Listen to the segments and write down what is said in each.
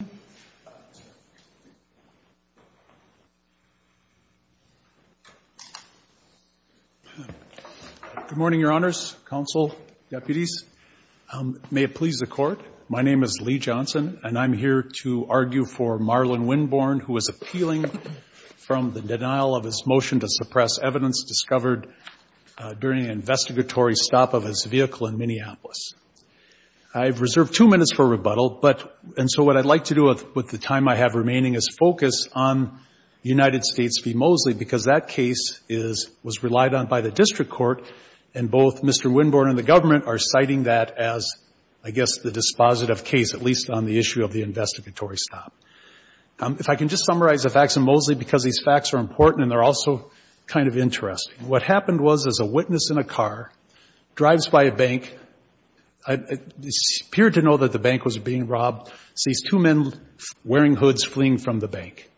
Good morning, your honors, counsel, deputies. May it please the court, my name is Lee Johnson and I'm here to argue for Marlon Winborn who is appealing from the denial of his motion to suppress evidence discovered during an investigatory stop of his vehicle in Minneapolis. I've reserved two minutes for rebuttal, but, and so what I'd like to do with the time I have remaining is focus on United States v. Mosley because that case is, was relied on by the district court and both Mr. Winborn and the government are citing that as, I guess, the dispositive case, at least on the issue of the investigatory stop. If I can just summarize the facts of Mosley because these facts are I, it appeared to know that the bank was being robbed, sees two men wearing hoods fleeing from the bank.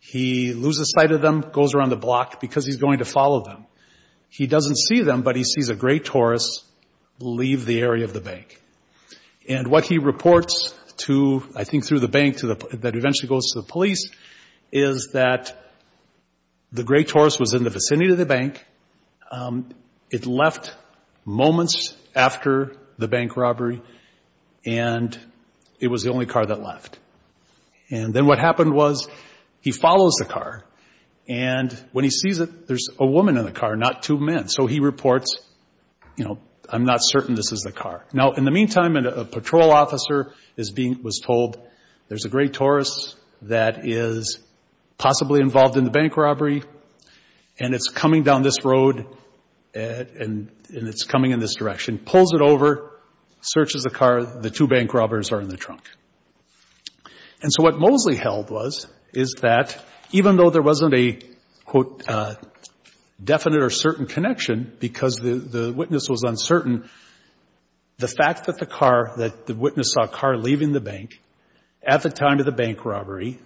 He loses sight of them, goes around the block because he's going to follow them. He doesn't see them, but he sees a gray Taurus leave the area of the bank. And what he reports to, I think through the bank to the, that eventually goes to the police, is that the gray Taurus was in the vicinity of the bank. It left moments after the bank robbery and it was the only car that left. And then what happened was he follows the car and when he sees it, there's a woman in the car, not two men. So he reports, you know, I'm not certain this is the car. Now, in the meantime, a patrol officer is being, was told there's a gray Taurus that is possibly involved in the bank robbery and it's coming down this road and it's coming in this direction, pulls it over, searches the car. The two bank robbers are in the trunk. And so what Mosley held was, is that even though there wasn't a, quote, definite or certain connection because the witness was uncertain, the fact that the car, that the witness saw a car leaving the bank at the time of the bank robbery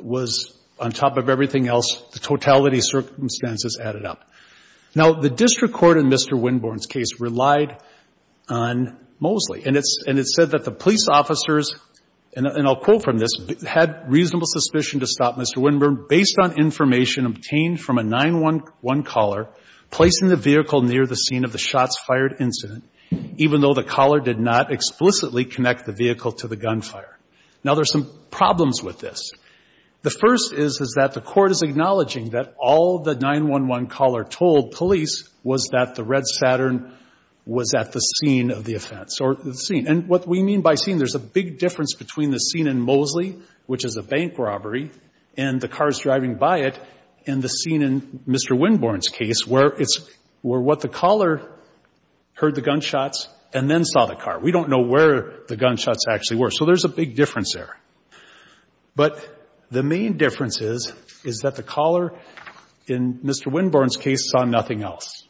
was on top of everything else, the totality of circumstances added up. Now, the district court in Mr. Winborn's case relied on Mosley. And it's, and it said that the police officers, and I'll quote from this, had reasonable suspicion to stop Mr. Winborn based on information obtained from a 9-1-1 caller placing the vehicle near the scene of the shots fired incident, even though the caller did not explicitly connect the vehicle to the gunfire. Now, there's some problems with this. The first is, is that the court is acknowledging that all the 9-1-1 caller told police was that the red Saturn was at the scene of the offense or the scene. And what we mean by scene, there's a big difference between the scene in Mosley, which is a bank robbery, and the cars driving by it, and the scene in Mr. Winborn's case where it's, where what the caller heard the gunshots and then saw the car. We don't know where the gunshots actually were. So there's a big difference there. But the main difference is, is that the caller in Mr. Winborn's case saw nothing else.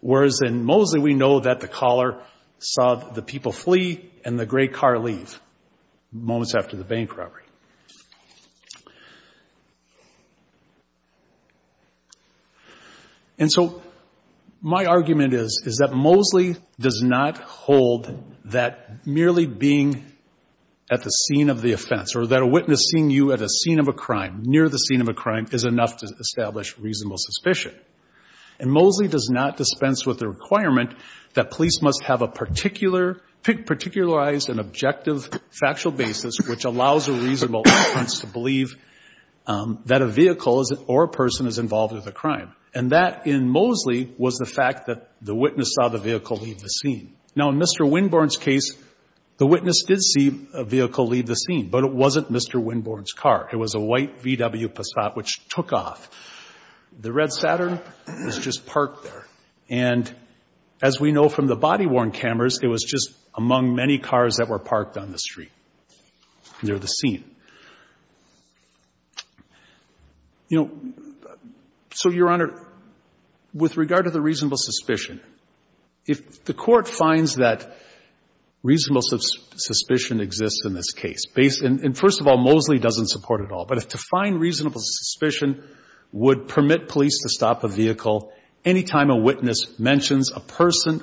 Whereas in Mosley, we know that the caller saw the people flee and the gray car leave moments after the that merely being at the scene of the offense or that a witness seeing you at a scene of a crime near the scene of a crime is enough to establish reasonable suspicion. And Mosley does not dispense with the requirement that police must have a particular, particularized and objective factual basis, which allows a reasonable offense to believe that a vehicle or a person is involved with a crime. And that in Mosley was the fact that the case, the witness did see a vehicle leave the scene, but it wasn't Mr. Winborn's car. It was a white VW Passat which took off. The red Saturn was just parked there. And as we know from the body-worn cameras, it was just among many cars that were parked on the street near the scene. You know, so, Your Honor, with regard to the reasonable suspicion, if the Court finds that reasonable suspicion exists in this case, based and first of all, Mosley doesn't support it all. But to find reasonable suspicion would permit police to stop a vehicle any time a witness mentions a person.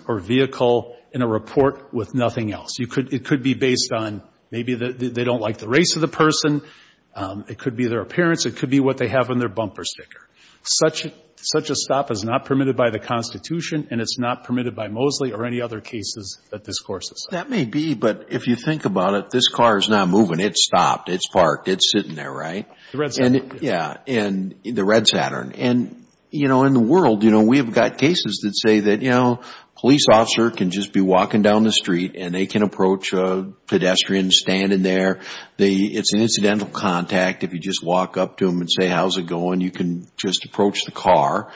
It could be their appearance. It could be what they have on their bumper sticker. Such a stop is not permitted by the Constitution, and it's not permitted by Mosley or any other cases that this Court has cited. That may be, but if you think about it, this car is not moving. It's stopped. It's parked. It's sitting there, right? The red Saturn. Yeah. And the red Saturn. And, you know, in the world, you know, we have got cases that say that, you know, a police officer can just be walking down the street and they can approach a pedestrian standing there. It's an incidental contact if you just walk up to them and say, how's it going? You can just approach the car,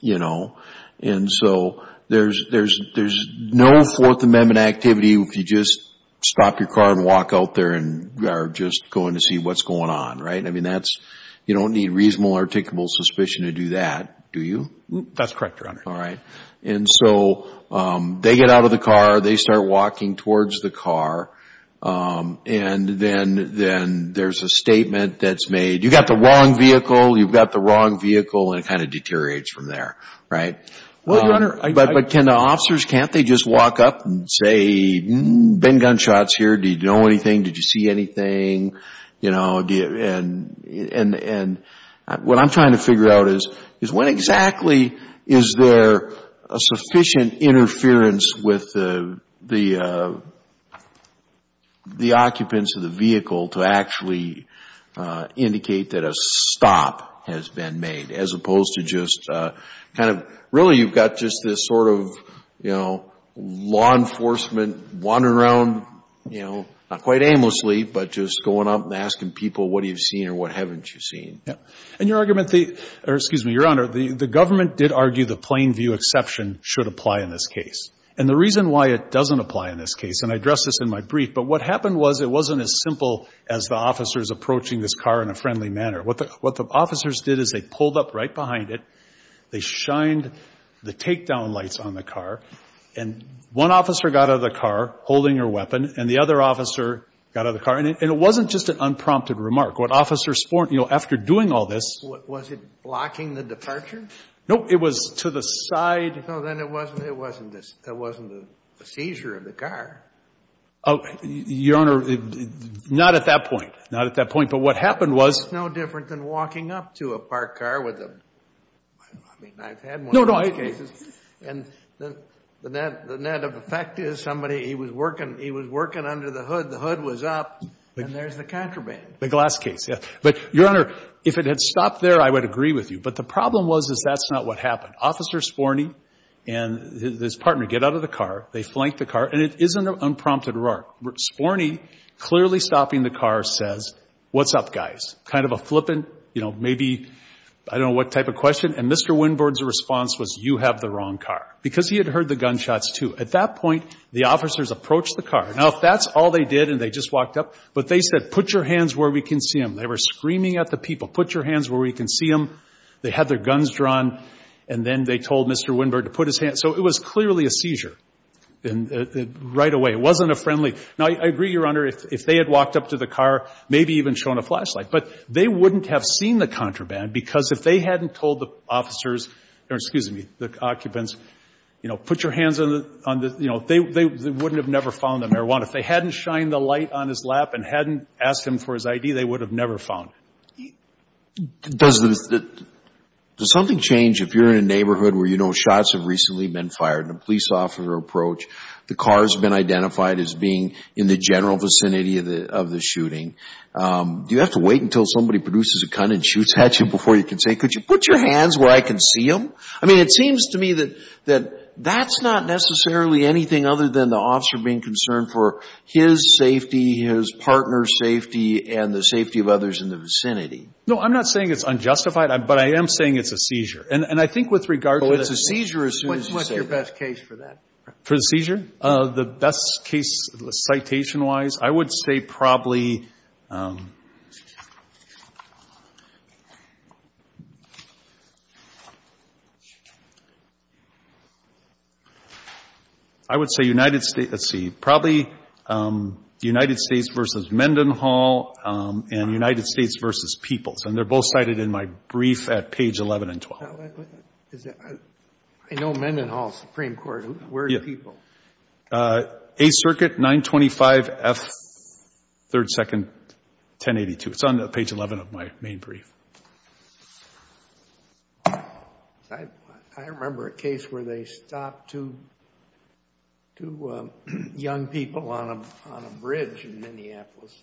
you know. And so, there's no Fourth Amendment activity if you just stop your car and walk out there and are just going to see what's going on, right? I mean, that's, you don't need reasonable or articulable suspicion to do that, do you? That's correct, Your Honor. All right. And so, they get out of the car, they start walking towards the car, and then there's a statement that's made, you've got the wrong vehicle, you've got the wrong vehicle, and it kind of deteriorates from there, right? Well, Your Honor, I But can the officers, can't they just walk up and say, been gunshots here, do you know anything, did you see anything, you know, and what I'm trying to figure out is when exactly is there a sufficient interference with the occupants of the vehicle to actually indicate that a stop has been made as opposed to just kind of, really, you've got just this sort of, you know, law enforcement wandering around, you know, not quite aimlessly, but just going up and asking people, what do you see or what haven't you seen? And your argument, or excuse me, Your Honor, the government did argue the plain view exception should apply in this case. And the reason why it doesn't apply in this case, and I addressed this in my brief, but what happened was it wasn't as simple as the officers approaching this car in a friendly manner. What the officers did is they pulled up right behind it, they shined the takedown lights on the car, and one officer got out of the car holding her weapon, and the other officer got out of the car. And it wasn't just an unprompted remark. What officers, you know, after doing all this. Was it blocking the departure? No, it was to the side. So then it wasn't a seizure of the car. Your Honor, not at that point. Not at that point. But what happened was. It's no different than walking up to a parked car with a, I mean, I've had one of those cases. No, no. The net of effect is somebody, he was working under the hood, the hood was up, and there's the contraband. The glass case, yeah. But, Your Honor, if it had stopped there, I would agree with you. But the problem was is that's not what happened. Officer Sporny and his partner get out of the car, they flank the car, and it isn't an unprompted remark. Sporny clearly stopping the car says, what's up, guys? Kind of a flippant, you know, maybe, I don't know what type of question. And Mr. Winboard's response was, you have the wrong car. Because he had heard the gunshots, too. At that point, the officers approached the car. Now, if that's all they did and they just walked up. But they said, put your hands where we can see them. They were screaming at the people. Put your hands where we can see them. They had their guns drawn, and then they told Mr. Winboard to put his hands. So it was clearly a seizure right away. It wasn't a friendly. Now, I agree, Your Honor, if they had walked up to the car, maybe even shown a flashlight. But they wouldn't have seen the contraband because if they hadn't told the officers, or excuse me, the occupants, you know, put your hands on the, you know, they wouldn't have never found the marijuana. If they hadn't shined the light on his lap and hadn't asked him for his ID, they would have never found it. Does something change if you're in a neighborhood where you know shots have recently been fired? A police officer approached. The car has been identified as being in the general vicinity of the shooting. Do you have to wait until somebody produces a gun and shoots at you before you can say, could you put your hands where I can see them? I mean, it seems to me that that's not necessarily anything other than the officer being concerned for his safety, his partner's safety, and the safety of others in the vicinity. No, I'm not saying it's unjustified, but I am saying it's a seizure. And I think with regard to the seizure as soon as you say it. What's your best case for that? For the seizure? The best case citation-wise, I would say probably. I would say United States. Let's see. Probably United States v. Mendenhall and United States v. Peoples. And they're both cited in my brief at page 11 and 12. I know Mendenhall, Supreme Court. Where's Peoples? Yeah. 8th Circuit, 925F, 3rd, 2nd, 1082. It's on page 11 of my main brief. I remember a case where they stopped two young people on a bridge in Minneapolis.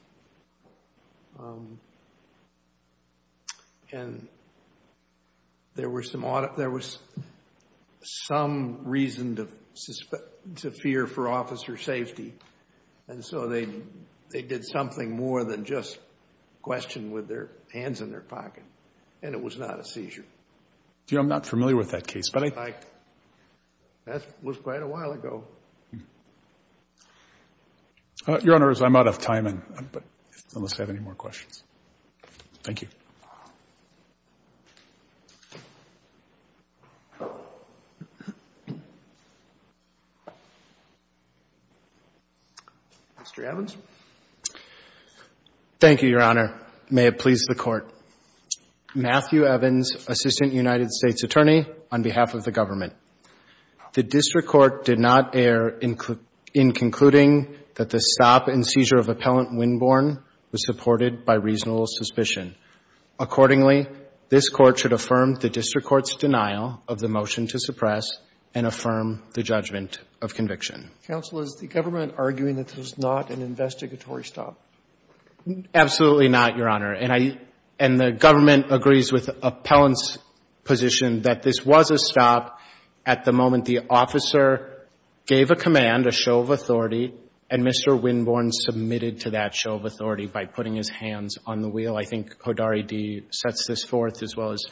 And there was some reason to fear for officer safety. And so they did something more than just question with their hands in their pocket. And it was not a seizure. I'm not familiar with that case. That was quite a while ago. Your Honors, I'm out of time unless I have any more questions. Thank you. Mr. Evans. Thank you, Your Honor. May it please the Court. Matthew Evans, Assistant United States Attorney on behalf of the government. The district court did not err in concluding that the stop and seizure of appellant Winborn was supported by reasonable suspicion. Accordingly, this Court should affirm the district court's denial of the motion to suppress and affirm the judgment of conviction. Counsel, is the government arguing that this was not an investigatory stop? Absolutely not, Your Honor. And the government agrees with appellant's position that this was a stop at the moment the officer gave a command, a show of authority, and Mr. Winborn submitted to that show of authority by putting his hands on the wheel. I think Hodari D. sets this forth as well as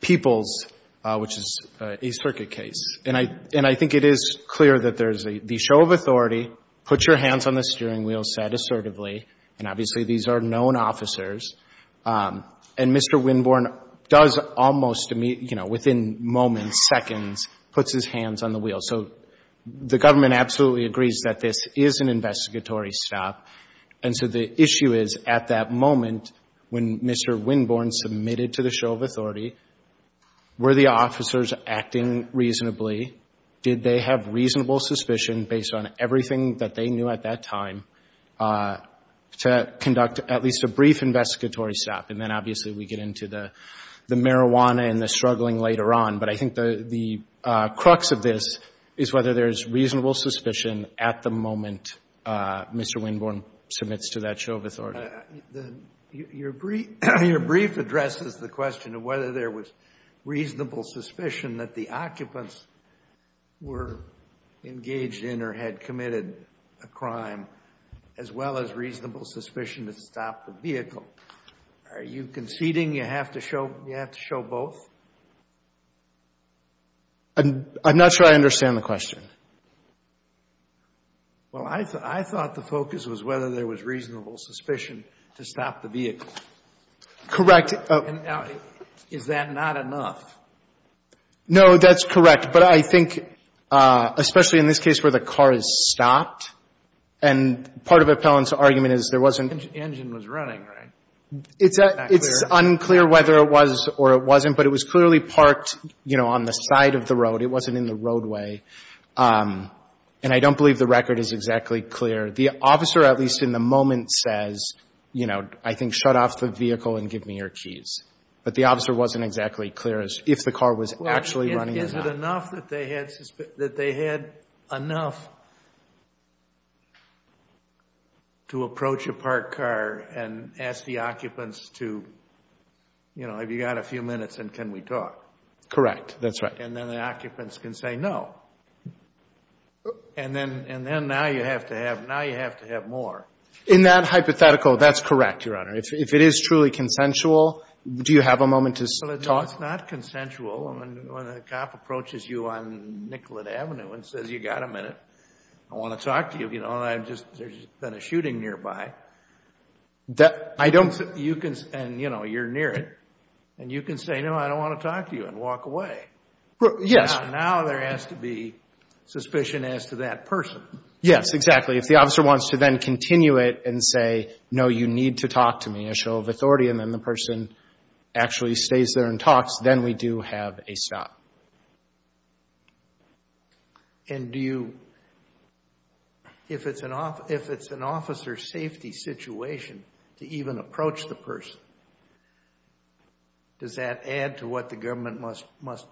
Peoples, which is a circuit case. And I think it is clear that there's the show of authority, put your hands on the steering wheel, said assertively, and obviously these are known officers. And Mr. Winborn does almost immediately, you know, within moments, seconds, puts his hands on the wheel. So the government absolutely agrees that this is an investigatory stop. And so the issue is at that moment when Mr. Winborn submitted to the show of authority, were the officers acting reasonably? Did they have reasonable suspicion based on everything that they knew at that time to conduct at least a brief investigatory stop? And then obviously we get into the marijuana and the struggling later on. But I think the crux of this is whether there's reasonable suspicion at the moment Mr. Winborn submits to that show of authority. Your brief addresses the question of whether there was reasonable suspicion that the occupants were engaged in or had committed a crime as well as reasonable suspicion to stop the vehicle. Are you conceding you have to show both? I'm not sure I understand the question. Well, I thought the focus was whether there was reasonable suspicion to stop the vehicle. Correct. Is that not enough? No, that's correct. But I think especially in this case where the car is stopped, and part of Appellant's argument is there wasn't Engine was running, right? It's unclear whether it was or it wasn't, but it was clearly parked, you know, on the side of the road. It wasn't in the roadway. And I don't believe the record is exactly clear. The officer at least in the moment says, you know, I think shut off the vehicle and give me your keys. But the officer wasn't exactly clear as to if the car was actually running or not. Is it enough that they had enough to approach a parked car and ask the occupants to, you know, have you got a few minutes and can we talk? Correct. That's right. And then the occupants can say no. And then now you have to have more. In that hypothetical, that's correct, Your Honor. If it is truly consensual, do you have a moment to talk? No, it's not consensual. When a cop approaches you on Nicollet Avenue and says you got a minute, I want to talk to you, you know, and there's been a shooting nearby, and, you know, you're near it. And you can say, no, I don't want to talk to you and walk away. Yes. Now there has to be suspicion as to that person. Yes, exactly. If the officer wants to then continue it and say, no, you need to talk to me, a show of authority, and then the person actually stays there and talks, then we do have a stop. And do you, if it's an officer's safety situation to even approach the person, does that add to what the government must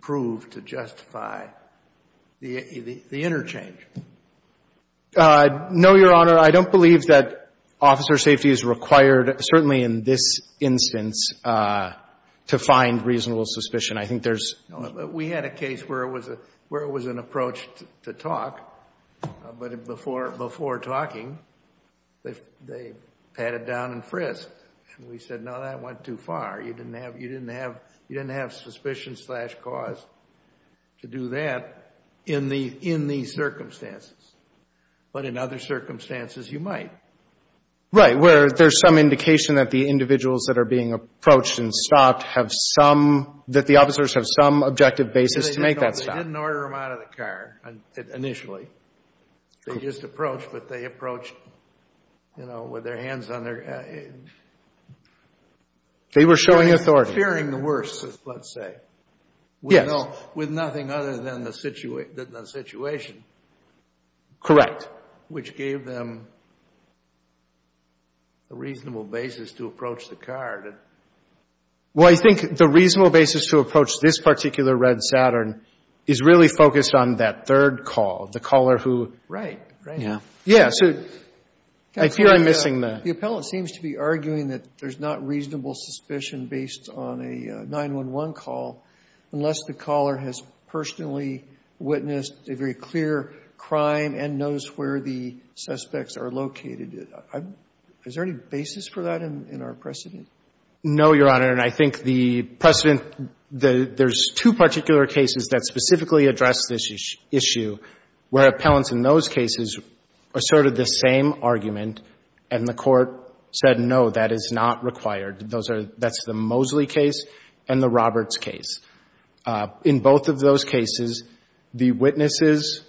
prove to justify the interchange? No, Your Honor. I don't believe that officer safety is required, certainly in this instance, to find reasonable suspicion. I think there's We had a case where it was an approach to talk, but before talking, they patted down and frisked. And we said, no, that went too far. You didn't have suspicion slash cause to do that in these circumstances. But in other circumstances, you might. Right, where there's some indication that the individuals that are being approached and stopped have some, that the officers have some objective basis to make that stop. They didn't order them out of the car initially. They just approached, but they approached, you know, with their hands on their... They were showing authority. Fearing the worst, let's say. Yes. With nothing other than the situation. Correct. Which gave them a reasonable basis to approach the car. Well, I think the reasonable basis to approach this particular red Saturn is really focused on that third call. The caller who... Right, right. Yeah. Yeah, so... I fear I'm missing the... The appellant seems to be arguing that there's not reasonable suspicion based on a 911 call unless the caller has personally witnessed a very clear crime and knows where the suspects are located. Is there any basis for that in our precedent? No, Your Honor, and I think the precedent... There's two particular cases that specifically address this issue where appellants in those cases asserted the same argument and the court said, no, that is not required. That's the Mosley case and the Roberts case. In both of those cases, the witnesses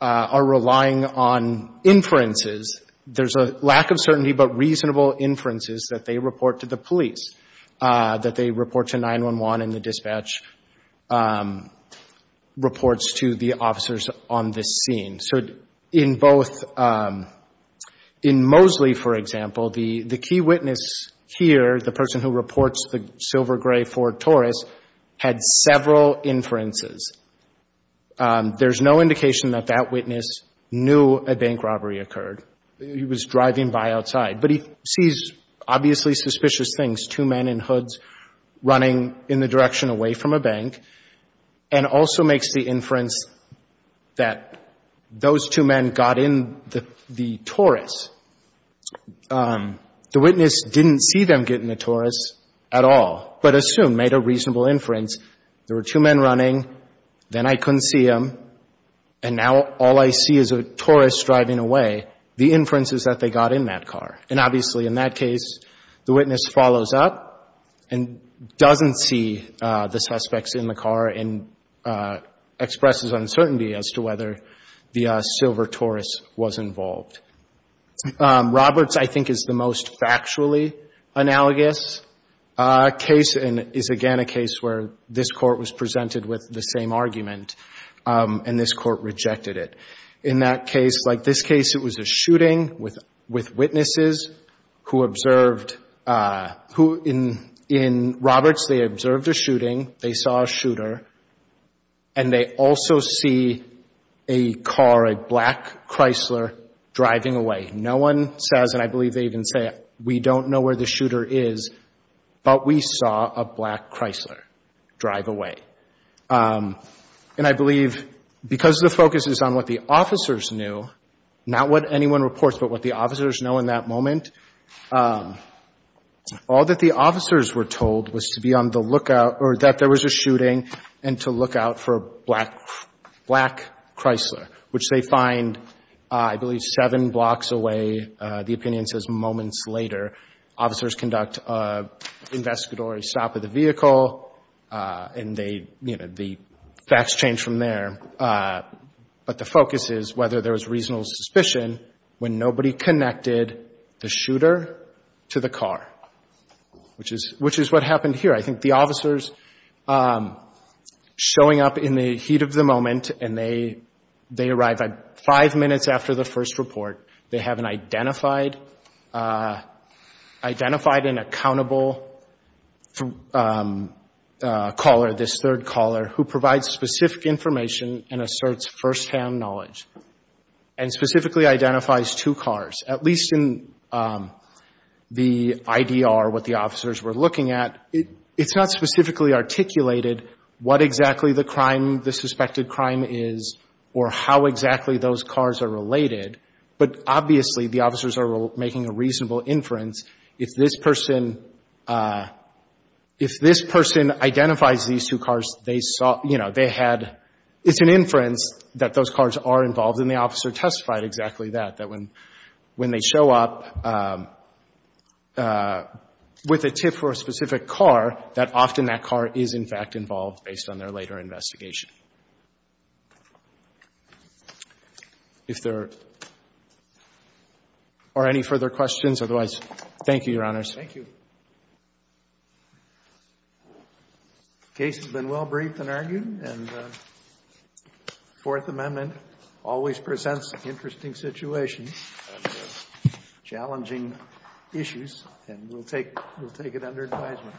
are relying on inferences. There's a lack of certainty but reasonable inferences that they report to the police, that they report to 911 and the dispatch reports to the officers on this scene. So in both... In Mosley, for example, the key witness here, the person who reports the silver gray Ford Taurus, had several inferences. There's no indication that that witness knew a bank robbery occurred. He was driving by outside. But he sees obviously suspicious things, two men in hoods running in the direction away from a bank and also makes the inference that those two men got in the Taurus. The witness didn't see them get in the Taurus at all, but assumed, made a reasonable inference, there were two men running, then I couldn't see them, and now all I see is a Taurus driving away. The inference is that they got in that car. And obviously, in that case, the witness follows up and doesn't see the suspects in the car and expresses uncertainty as to whether the silver Taurus was involved. Roberts, I think, is the most factually analogous case and is, again, a case where this Court was presented with the same argument and this Court rejected it. In that case, like this case, it was a shooting with witnesses who observed, who in Roberts, they observed a shooting, they saw a shooter, and they also see a car, a black Chrysler, driving away. No one says, and I believe they even say, we don't know where the shooter is, but we saw a black Chrysler drive away. And I believe because the focus is on what the officers knew, not what anyone reports, but what the officers know in that moment, all that the officers were told was to be on the lookout, or that there was a shooting, and to look out for a black Chrysler, which they find, I believe, seven blocks away, the opinion says moments later. Officers conduct an investigatory stop of the vehicle, and they, you know, the facts change from there. But the focus is whether there was reasonable suspicion when nobody connected the shooter to the car, which is what happened here. I think the officers showing up in the heat of the moment, and they arrive five minutes after the first report. They have an identified and accountable caller, this third caller, who provides specific information and asserts firsthand knowledge, and specifically identifies two cars. At least in the IDR, what the officers were looking at, it's not specifically articulated what exactly the crime, the suspected crime is, or how exactly those cars are related. But obviously, the officers are making a reasonable inference. If this person identifies these two cars, they saw, you know, they had, it's an inference that those cars are involved. And the officer testified exactly that, that when they show up with a tip for a specific car, that often that car is, in fact, involved based on their later investigation. If there are any further questions, otherwise, thank you, Your Honors. Thank you. The case has been well briefed and argued, and the Fourth Amendment always presents challenging issues, and we'll take it under advisement.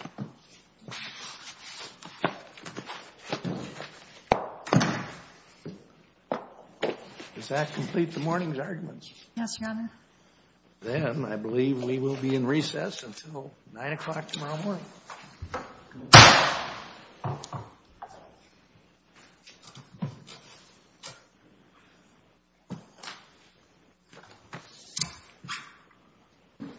Does that complete the morning's arguments? Yes, Your Honor. Then I believe we will be in recess until 9 o'clock tomorrow morning. Thank you.